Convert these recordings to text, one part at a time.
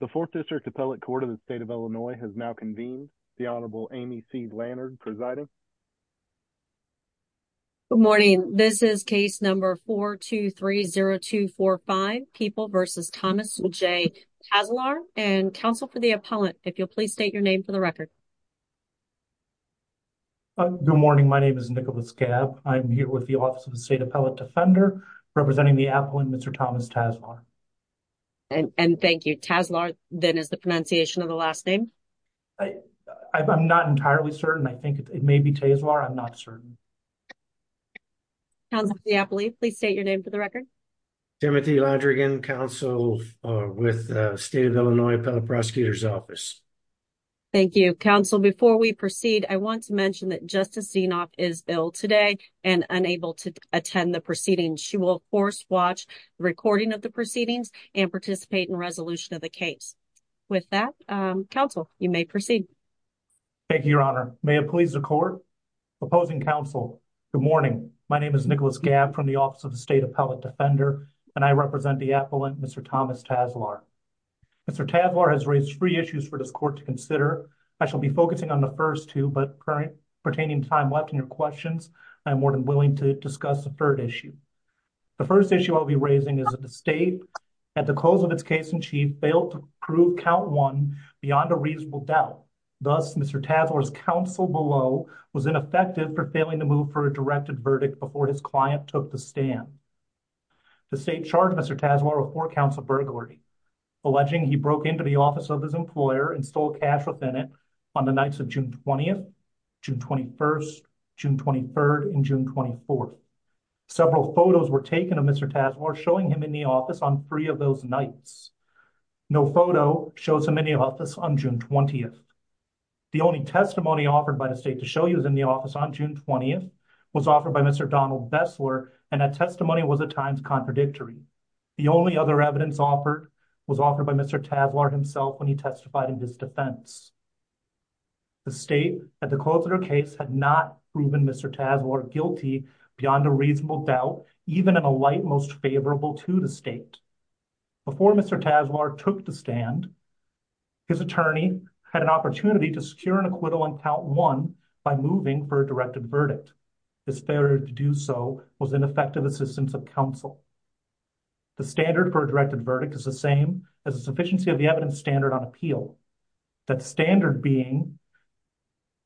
The 4th District Appellate Court of the State of Illinois has now convened. The Honorable Amy C. Lannard presiding. Good morning. This is case number 423-0245, People v. Thomas J. Tazelaar. And counsel for the appellant, if you'll please state your name for the record. Good morning. My name is Nicholas Gabb. I'm here with the Office of the State Appellate Defender, representing the appellant, Mr. Thomas Tazelaar. And thank you. Tazelaar, then, is the pronunciation of the last name? I'm not entirely certain. I think it may be Tazelaar. I'm not certain. Counsel for the appellate, if you'll please state your name for the record. Timothy Ladrigan, counsel with the State of Illinois Appellate Prosecutor's Office. Thank you. Counsel, before we proceed, I want to mention that Justice Zinoff is ill today and unable to attend the proceedings. She will, of course, watch the recording of the proceedings and participate in resolution of the case. With that, counsel, you may proceed. Thank you, Your Honor. May it please the Court? Opposing counsel, good morning. My name is Nicholas Gabb from the Office of the State Appellate Defender, and I represent the appellant, Mr. Thomas Tazelaar. Mr. Tazelaar has raised three issues for this Court to consider. I shall be focusing on the first two, but pertaining to the time left in your questions, I am more than willing to discuss the third issue. The first issue I will be raising is that the State, at the close of its case in chief, failed to prove Count 1 beyond a reasonable doubt. Thus, Mr. Tazelaar's counsel below was ineffective for failing to move for a directed verdict before his client took the stand. The State charged Mr. Tazelaar with four counts of burglary, alleging he broke into the office of his employer and stole cash within it on the nights of June 20th, June 21st, June 23rd, and June 24th. Several photos were taken of Mr. Tazelaar, showing him in the office on three of those nights. No photo shows him in the office on June 20th. The only testimony offered by the State to show he was in the office on June 20th was offered by Mr. Donald Bessler, and that testimony was at times contradictory. The only other evidence offered was offered by Mr. Tazelaar himself when he testified in his defense. The State, at the close of their case, had not proven Mr. Tazelaar guilty beyond a reasonable doubt, even in a light most favorable to the State. Before Mr. Tazelaar took the stand, his attorney had an opportunity to secure an acquittal on Count 1 by moving for a directed verdict. His failure to do so was ineffective assistance of counsel. The standard for a directed verdict is the same as the sufficiency of the evidence standard on appeal, that standard being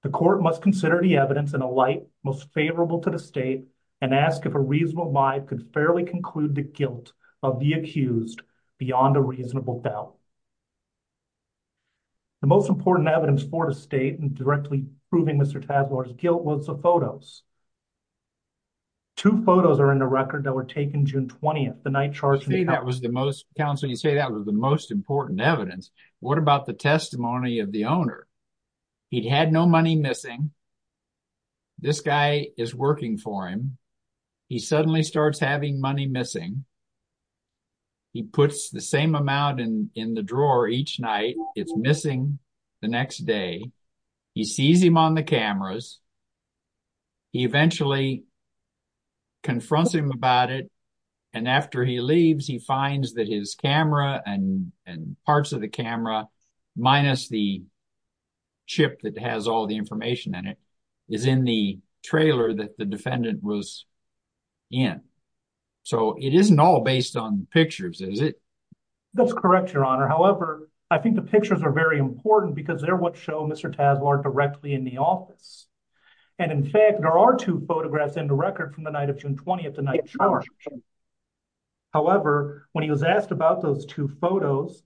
the court must consider the evidence in a light most favorable to the State and ask if a reasonable mind could fairly conclude the guilt of the accused beyond a reasonable doubt. The most important evidence for the State in directly proving Mr. Tazelaar's guilt was the photos. Two photos are in the record that were taken June 20th, the night charged... You say that was the most, counsel, you say that was the most important evidence. What about the testimony of the owner? He'd had no money missing, this guy is working for him, he suddenly starts having money missing, he puts the same amount in the drawer each night, it's missing the next day, he sees him on the cameras, he eventually confronts him about it, and after he leaves, he finds that his camera and parts of the camera, minus the chip that was in, so it isn't all based on pictures, is it? That's correct, your honor, however, I think the pictures are very important because they're what show Mr. Tazelaar directly in the office, and in fact, there are two photographs in the record from the night of June 20th, the night charged, however, when he was asked about those two photos,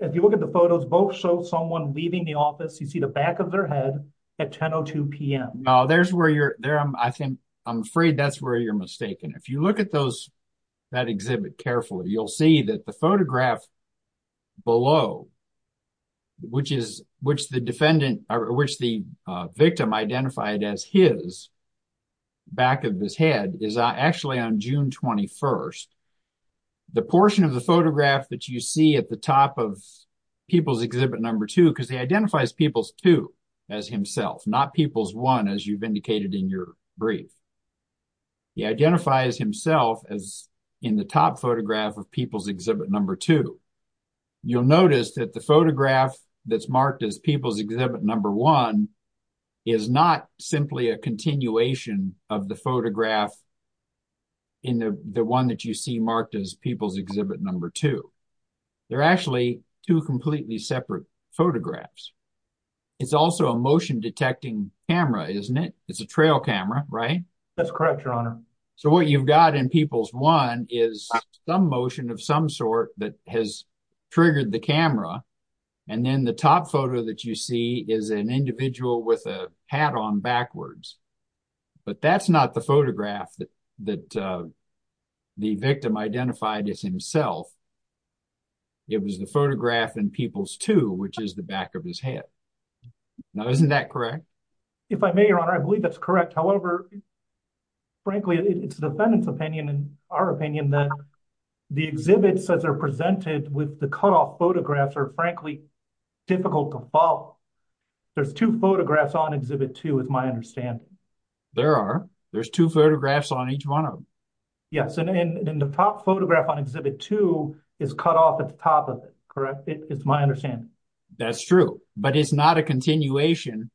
if you look at the photos, both show someone leaving the office, you see the back of their head at 10 o'clock p.m. No, I'm afraid that's where you're mistaken. If you look at that exhibit carefully, you'll see that the photograph below, which the victim identified as his back of his head, is actually on June 21st. The portion of the photograph that you see at the top of People's Exhibit No. 2, because he identifies People's 2 as himself, not People's 1 as you've indicated in your brief, he identifies himself as in the top photograph of People's Exhibit No. 2. You'll notice that the photograph that's marked as People's Exhibit No. 1 is not simply a continuation of the photograph in the one that you see marked as People's Exhibit No. 2. They're actually two completely separate photographs. It's also a motion-detecting camera, isn't it? It's a trail camera, right? That's correct, Your Honor. So what you've got in People's 1 is some motion of some sort that has triggered the camera, and then the top photo that you see is an individual with a hat on backwards, but that's not the photograph that the victim identified as himself. It was the photograph in People's 2, which is the back of his head. Now, isn't that correct? If I may, Your Honor, I believe that's correct. However, frankly, it's the defendant's opinion and our opinion that the exhibits that are presented with the cutoff photographs are frankly difficult to follow. There's two photographs on Exhibit 2, is my understanding. There are. There's two photographs on each one of them. Yes, and the top photograph on Exhibit 2 is cut off at the top of it, correct? It's my understanding. That's true, but it's not a continuation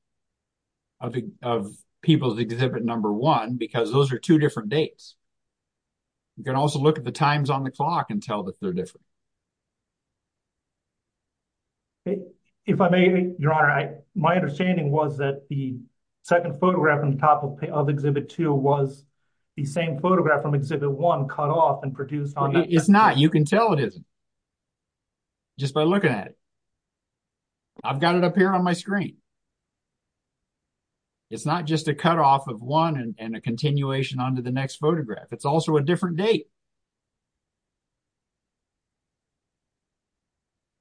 of People's Exhibit No. 1 because those are two different dates. You can also look at the times on the clock and tell that they're different. Okay. If I may, Your Honor, my understanding was that the second photograph on top of Exhibit 2 was the same photograph from Exhibit 1 cut off and produced on that. It's not. You can tell it isn't just by looking at it. I've got it up here on my screen. It's not just a cutoff of one and a continuation onto the next photograph. It's also a different date.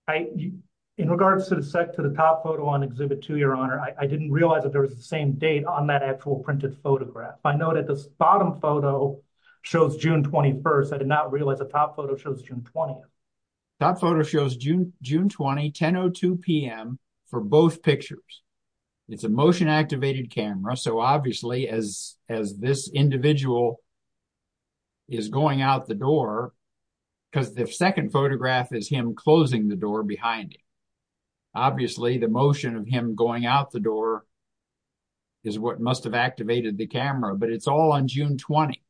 In regards to the set to the top photo on Exhibit 2, Your Honor, I didn't realize that there was the same date on that actual printed photograph. I know that this bottom photo shows June 21st. I did not realize the top photo shows June 20th. Top photo shows June 20, 10.02 p.m. for both pictures. It's a motion-activated camera, so obviously as this individual is going out the door, because the second photograph is him closing the door behind him, obviously the motion of him going out the door is what must have activated the camera, but it's all on June 20.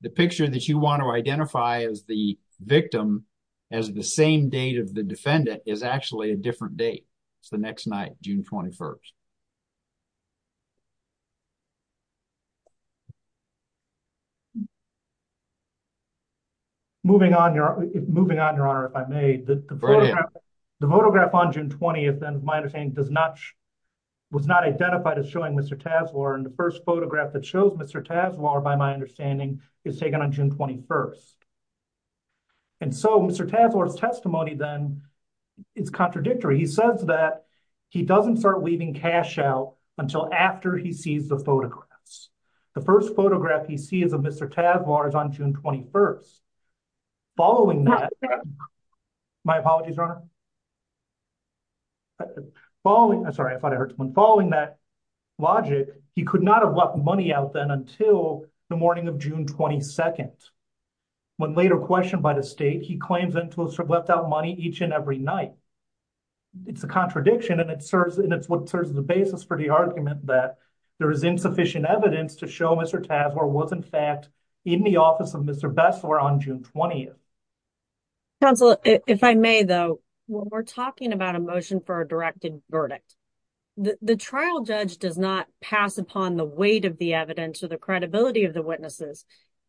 The picture that you want to identify as the victim as the same date of the defendant is actually a different date. It's the next night, June 21st. Moving on, Your Honor, if I may, the photograph on June 20th was not identified as showing Mr. Tasler. The first photograph that shows Mr. Tasler, by my understanding, is taken on June 21st. Mr. Tasler's testimony then is contradictory. He says that he doesn't start leaving cash out until after he sees the photographs. The first photograph he sees of Mr. Tasler is on June 21st. Following that, my apologies, Your Honor, following that logic, he could not have left money out then until the morning of June 22nd. When later questioned by the state, he claims that he left out money each and every night. It's a contradiction, and it's what serves as the basis for the argument that there is insufficient evidence to show Mr. Tasler was, in fact, in the office of Mr. Bessler on June 20th. Counsel, if I may, though, when we're talking about a motion for a directed verdict, the trial judge does not pass upon the weight of the evidence or the credibility of the witnesses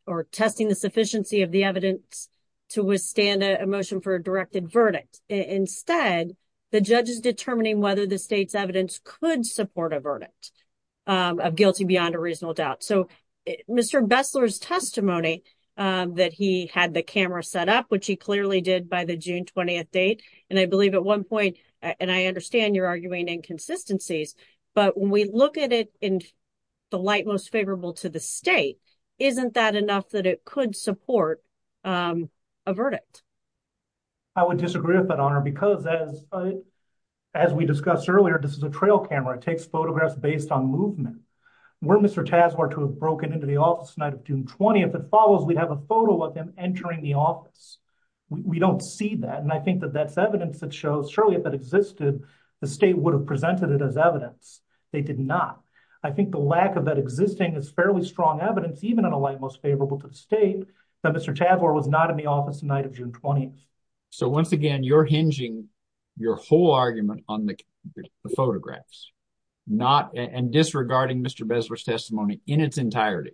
or testing the sufficiency of the evidence to withstand a motion for a directed verdict. Instead, the judge is determining whether the state's evidence could support a verdict of guilty beyond a reasonable doubt. So, Mr. Bessler's testimony that he had the camera set up, which he clearly did by the June 20th date, and I believe at one point, and I understand you're arguing inconsistencies, but when we look at it in the light most favorable to the state, isn't that enough that it could support a verdict? I would disagree with that, Honor, because as we discussed earlier, this is a trail camera. It takes photographs based on movement. Were Mr. Tasler to have broken into the office the night of June 20th, if it follows, we'd have a photo of him entering the office. We don't see that, and I think that that's evidence that shows surely if it existed, the state would have presented it as evidence. They did not. I think the lack of that existing is fairly strong evidence, even in a light most favorable to the state, that Mr. Tasler was not in the office the night of June 20th. So, once again, you're hinging your whole argument on the photographs and disregarding Mr. Bessler's testimony in its entirety.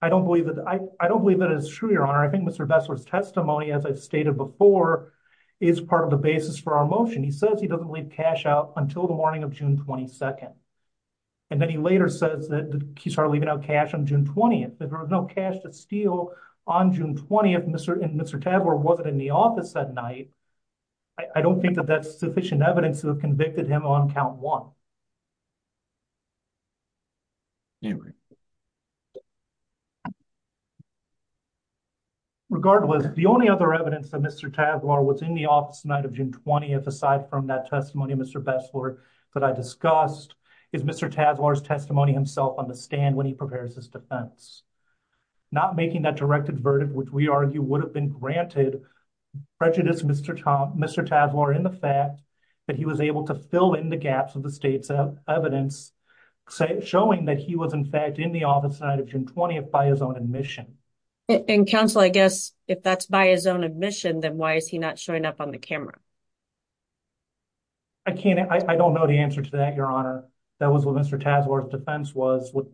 I don't believe that. I don't believe that is true, Your Honor. I think Mr. Bessler's testimony, as I've stated before, is part of the basis for our motion. He says he doesn't leave cash out until the morning of June 22nd, and then he later says that he started leaving out cash on June 20th. There was no cash to steal on June 20th, and Mr. Tasler wasn't in the office that night. I don't think that that's sufficient evidence to have convicted him on count one. Regardless, the only other evidence that Mr. Tasler was in the office the night of June 20th, aside from that testimony of Mr. Bessler that I discussed, is Mr. Tasler's testimony himself on the stand when he prepares his defense. Not making that direct advertent, which we argue would have been granted, prejudiced Mr. Tasler in the fact that he was able to fill in the gaps of the state's evidence, showing that he was, in fact, in the office the night of June 20th by his own admission. And, counsel, I guess, if that's by his own admission, then why is he not showing up on the camera? I can't, I don't know the answer to that, Your Honor. That was what Mr. Tasler's defense was. What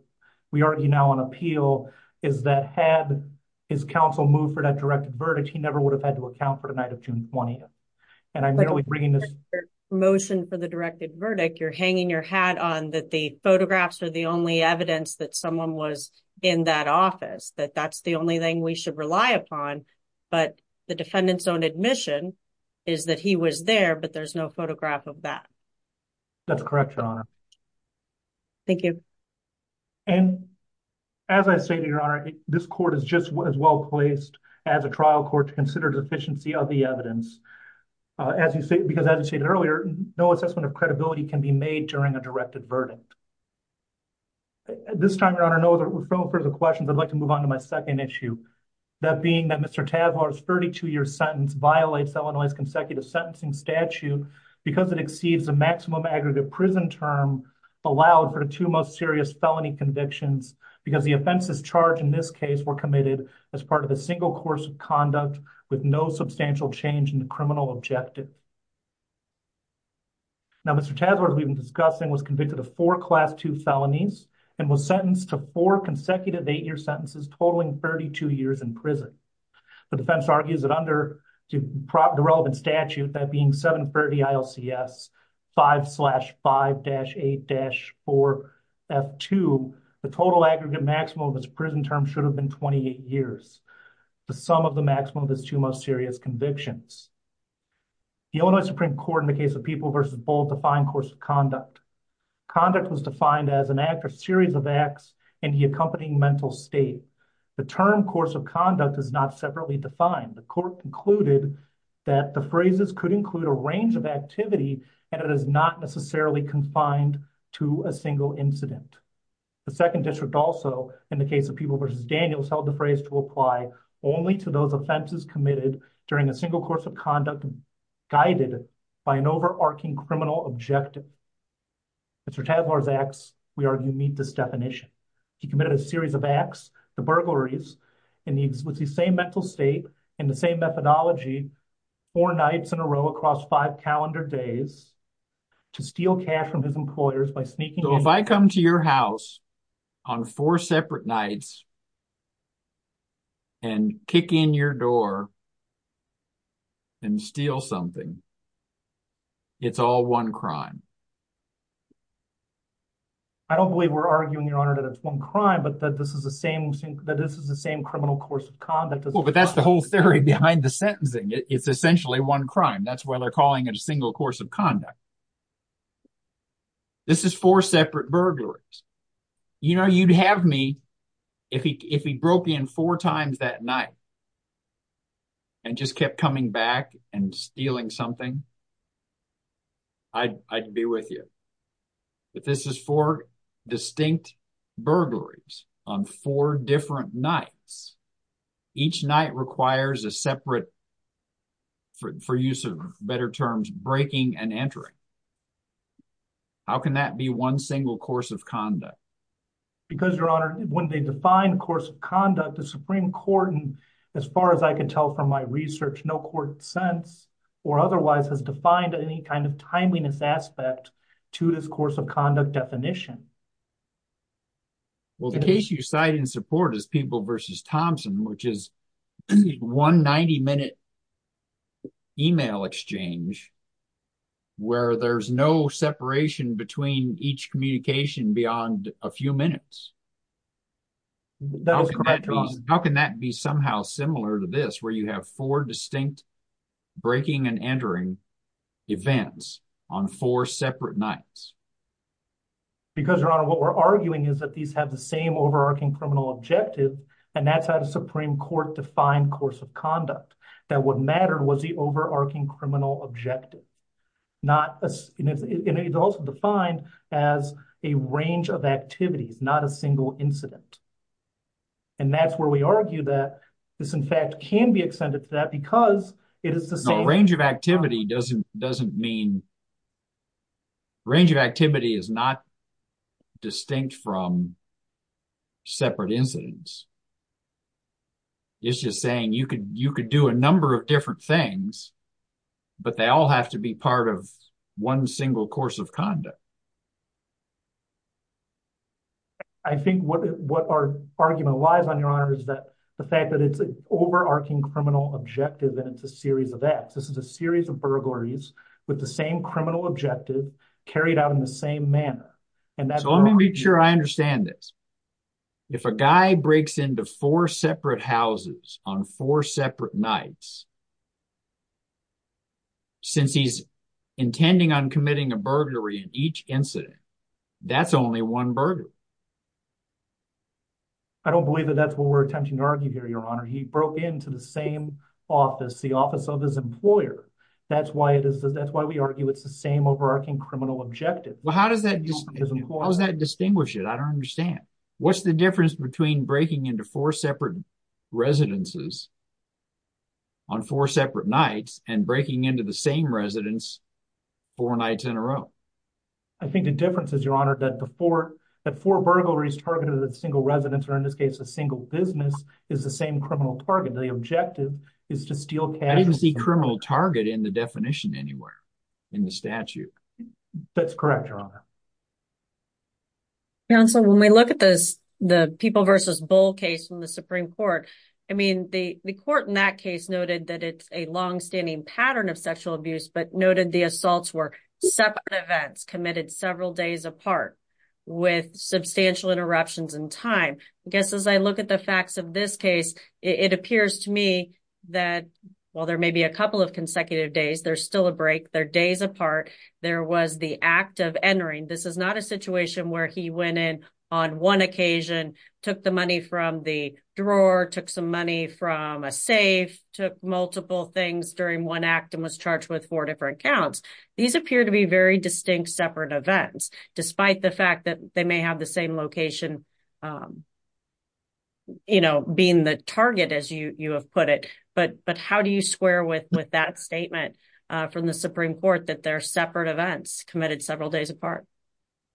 we argue now on appeal is that had his counsel moved for that directed verdict, he never would have had to account for the night of June 20th. And I'm really bringing this motion for the directed verdict. You're hanging your hat on that the photographs are the only evidence that someone was in that office, that that's the only thing we should rely upon, but the defendant's own admission is that he was there, but there's no photograph of that. That's correct, Your Honor. Thank you. And as I say to Your Honor, this court is just as well placed as a trial court to consider deficiency of the evidence. As you say, because as you stated earlier, no assessment of credibility can be made during a directed verdict. At this time, Your Honor, no further questions. I'd like to move on to my next case. Mr. Tasler's 32-year sentence violates Illinois' consecutive sentencing statute because it exceeds the maximum aggregate prison term allowed for the two most serious felony convictions because the offenses charged in this case were committed as part of a single course of conduct with no substantial change in the criminal objective. Now, Mr. Tasler, who we've been discussing, was convicted of four Class II felonies and was sentenced to four consecutive eight-year sentences, totaling 32 years in prison. The defense argues that under the relevant statute, that being 730 ILCS 5-5-8-4F2, the total aggregate maximum of his prison term should have been 28 years, the sum of the maximum of his two most serious convictions. The Illinois Supreme Court, in the case of People v. Bull, defined course of conduct. Conduct was defined as an act or series of acts in the accompanying mental state. The term course of conduct is not separately defined. The court concluded that the phrases could include a range of activity and it is not necessarily confined to a single incident. The Second District also, in the case of People v. Daniels, held the phrase to apply only to those offenses committed during single course of conduct guided by an overarching criminal objective. Mr. Tasler's acts, we argue, meet this definition. He committed a series of acts, the burglaries, in the same mental state, in the same methodology, four nights in a row across five calendar days, to steal cash from his employers by sneaking in- and steal something. It's all one crime. I don't believe we're arguing, Your Honor, that it's one crime, but that this is the same criminal course of conduct. Well, but that's the whole theory behind the sentencing. It's essentially one crime. That's why they're calling it a single course of conduct. This is four separate burglaries. You know, you'd have me, if he broke in four times that night and just kept coming back and stealing something, I'd be with you. But this is four distinct burglaries on four different nights. Each night requires a separate, for use of better terms, breaking and entering. How can that be one single course of conduct? Because, Your Honor, when they define course of conduct, the Supreme Court, as far as I can tell from my research, no court since or otherwise has defined any kind of timeliness aspect to this course of conduct definition. Well, the case you cite in support is People v. Thompson, which is one 90-minute email exchange where there's no separation between each communication beyond a few minutes. That was correct, Your Honor. How can that be somehow similar to this, where you have four distinct breaking and entering events on four separate nights? Because, Your Honor, what we're arguing is that these have the same overarching criminal objective, and that's how the Supreme Court defined course of conduct, that what mattered was the overarching criminal objective. And it's also defined as a range of activities, not a single incident. And that's where we argue that this, in fact, can be extended to that because it is the same. Range of activity doesn't mean...range of activity is not distinct from separate incidents. It's just saying you could do a number of different things but they all have to be part of one single course of conduct. I think what our argument lies on, Your Honor, is that the fact that it's an overarching criminal objective and it's a series of acts. This is a series of burglaries with the same criminal objective carried out in the same manner. So let me make sure I understand this. If a guy breaks into four separate houses on four separate nights, since he's intending on committing a burglary in each incident, that's only one burglary. I don't believe that that's what we're attempting to argue here, Your Honor. He broke into the same office, the office of his employer. That's why we argue it's the same overarching criminal objective. Well, how does that distinguish it? I don't understand. What's the difference between breaking into four separate residences on four separate nights and breaking into the same residence four nights in a row? I think the difference is, Your Honor, that four burglaries targeted at a single residence, or in this case a single business, is the same criminal target. The objective is to steal cash. I didn't see criminal target in the definition anywhere in the statute. Counsel, when we look at this, the People v. Bull case from the Supreme Court, I mean, the court in that case noted that it's a longstanding pattern of sexual abuse, but noted the assaults were separate events committed several days apart with substantial interruptions in time. I guess as I look at the facts of this case, it appears to me that while there may be a couple of consecutive days, there's still a break, they're days apart. There was the act of entering. This is not a situation where he went in on one occasion, took the money from the drawer, took some money from a safe, took multiple things during one act and was charged with four different counts. These appear to be very distinct separate events, despite the fact that they may have the same location being the target, as you have put it. But how do you square with that statement from the Supreme Court that they're separate events committed several days apart?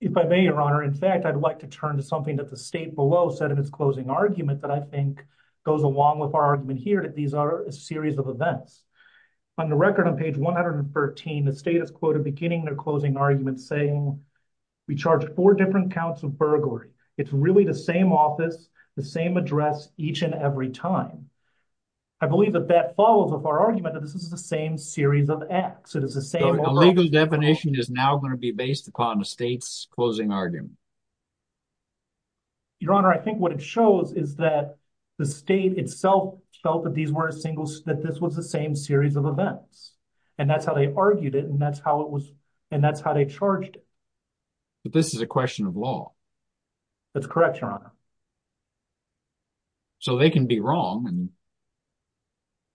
If I may, Your Honor, in fact, I'd like to turn to something that the state below said in its closing argument that I think goes along with our argument here, that these are a series of events. On the record on page 113, the state is quoted beginning their closing argument saying, we charged four different counts of burglary. It's really the same office, the same address each and every time. I believe that that follows with our argument that this is the same series of acts. It is the same. The legal definition is now going to be based upon the state's closing argument. Your Honor, I think what it shows is that the state itself felt that this was the same series of events and that's how they argued it and that's how they charged it. But this is a question of law. That's correct, Your Honor. So they can be wrong and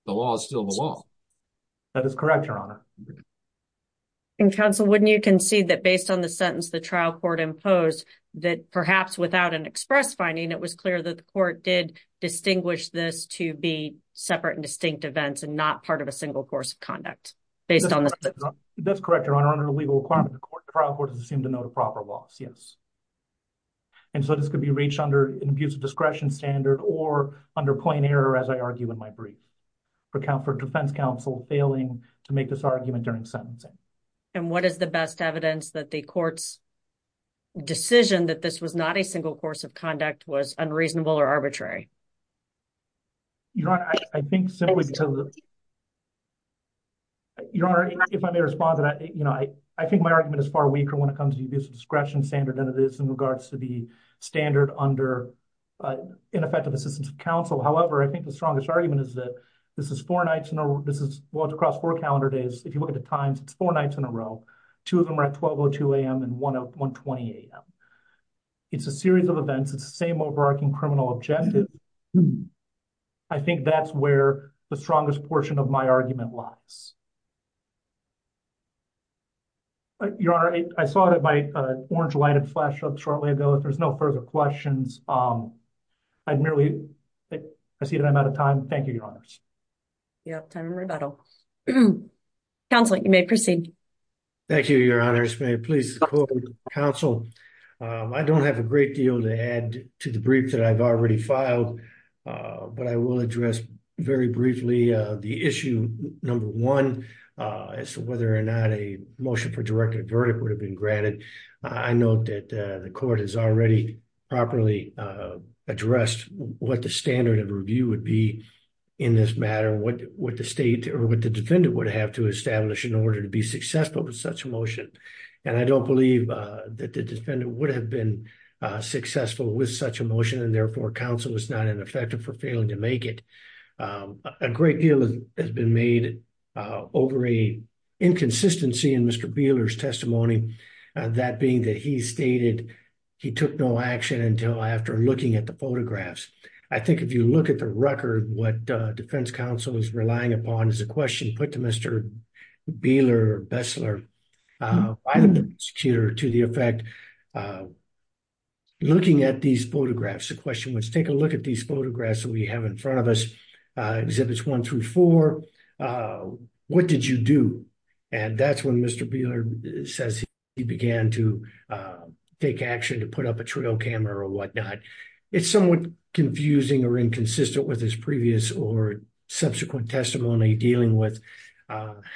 the law is still the law. That is correct, Your Honor. And counsel, wouldn't you concede that based on the sentence the trial court imposed, that perhaps without an express finding, it was clear that the court did distinguish this to be separate and distinct events and not part of a proper loss? Yes. And so this could be reached under an abusive discretion standard or under plain error, as I argue in my brief, for defense counsel failing to make this argument during sentencing. And what is the best evidence that the court's decision that this was not a single course of conduct was unreasonable or arbitrary? Your Honor, I think simply because Your Honor, if I may respond to that, you know, I think my argument is far weaker when it comes to abusive discretion standard than it is in regards to the standard under ineffective assistance of counsel. However, I think the strongest argument is that this is four nights in a row. This is well across four calendar days. If you look at the times, it's four nights in a row, two of them are at 12 or 2 a.m. and one at 1.20 a.m. It's a series of events. It's the same overarching criminal objective. I think that's where the strongest portion of my argument lies. Your Honor, I saw that my orange light had flashed up shortly ago. If there's no further questions, I merely, I see that I'm out of time. Thank you, Your Honors. You have time for rebuttal. Counsel, you may proceed. Thank you, Your Honors. May it please counsel. I don't have a great deal to add to the brief that I've already filed, but I will address very briefly the issue number one as to whether or not a motion for direct verdict would have been granted. I note that the court has already properly addressed what the standard of review would be in this matter, what the state or what the defendant would have to believe that the defendant would have been successful with such a motion and therefore counsel is not ineffective for failing to make it. A great deal has been made over a inconsistency in Mr. Beeler's testimony, that being that he stated he took no action until after looking at the photographs. I think if you look at the record, what defense counsel is relying upon is a question put to Mr. Beeler or Bessler by the prosecutor to the effect, looking at these photographs, the question was take a look at these photographs that we have in front of us, exhibits one through four, what did you do? And that's when Mr. Beeler says he began to take action to put up a trail camera or whatnot. It's somewhat confusing or inconsistent with his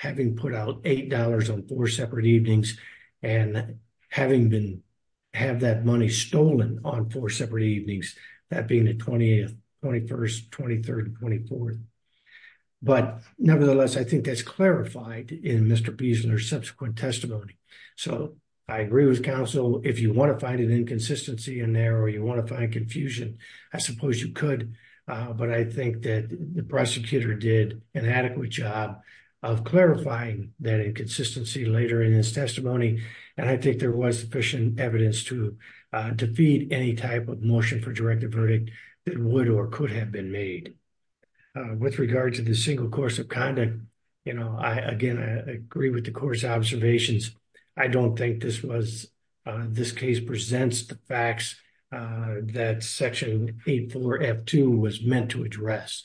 having put out $8 on four separate evenings and having been have that money stolen on four separate evenings, that being the 20th, 21st, 23rd, 24th. But nevertheless, I think that's clarified in Mr. Beesler's subsequent testimony. So I agree with counsel, if you want to find an inconsistency in there or you want to find confusion, I suppose you could, but I think that the prosecutor did an adequate job of clarifying that inconsistency later in his testimony. And I think there was sufficient evidence to defeat any type of motion for directive verdict that would or could have been made. With regard to the single course of conduct, you know, I, again, I agree with the court's observations. I don't think this was, this case presents the facts that section 84F2 was meant to address.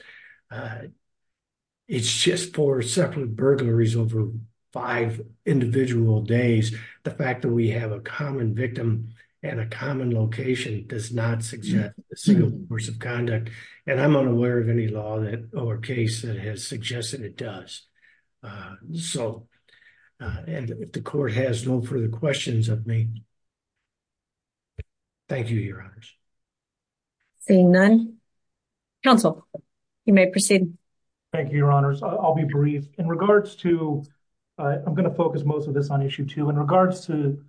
It's just four separate burglaries over five individual days. The fact that we have a common victim and a common location does not suggest a single course of conduct. And I'm unaware of any law that or case that has suggested it does. So, and if the court has no further questions of me, thank you, Your Honors. Seeing none, counsel, you may proceed. Thank you, Your Honors. I'll be brief. In regards to, I'm going to focus most of this on issue two. In regards to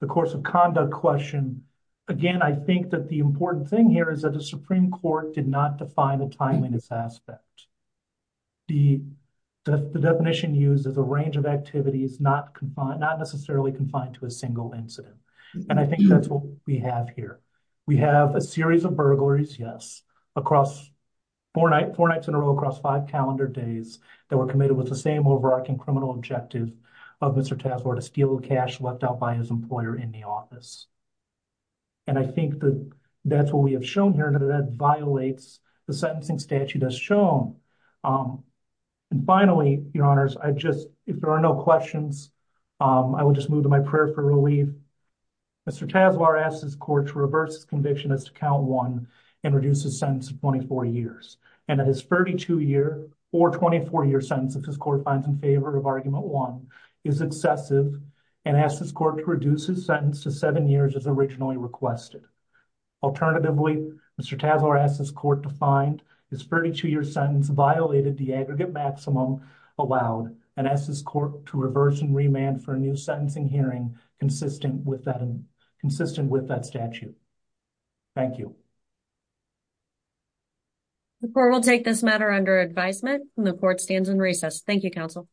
the course of conduct question, again, I think that the important thing here is that the Supreme Court did not define a timeliness aspect. The definition used is a range of activities not necessarily confined to a single incident. And I think that's what we have here. We have a series of burglaries, yes, across four nights in a row across five calendar days that were committed with the same overarching criminal objective of Mr. Tasvore to steal cash left out by his employer in the office. And I think that that's what we have shown here and that violates the sentencing statute as shown. And finally, Your Honors, I just, if there are no questions, I will just move to my prayer for relief. Mr. Tasvore asked his court to reverse his conviction as to count one and reduce his sentence to 24 years. And that his 32-year or 24-year sentence, if his court finds in favor of argument one, is excessive and asked his court to reduce his sentence to seven years as originally requested. Alternatively, Mr. Tasvore asked his court to reverse and remand for a new sentencing hearing consistent with that statute. Thank you. The court will take this matter under advisement and the court stands in recess. Thank you, counsel.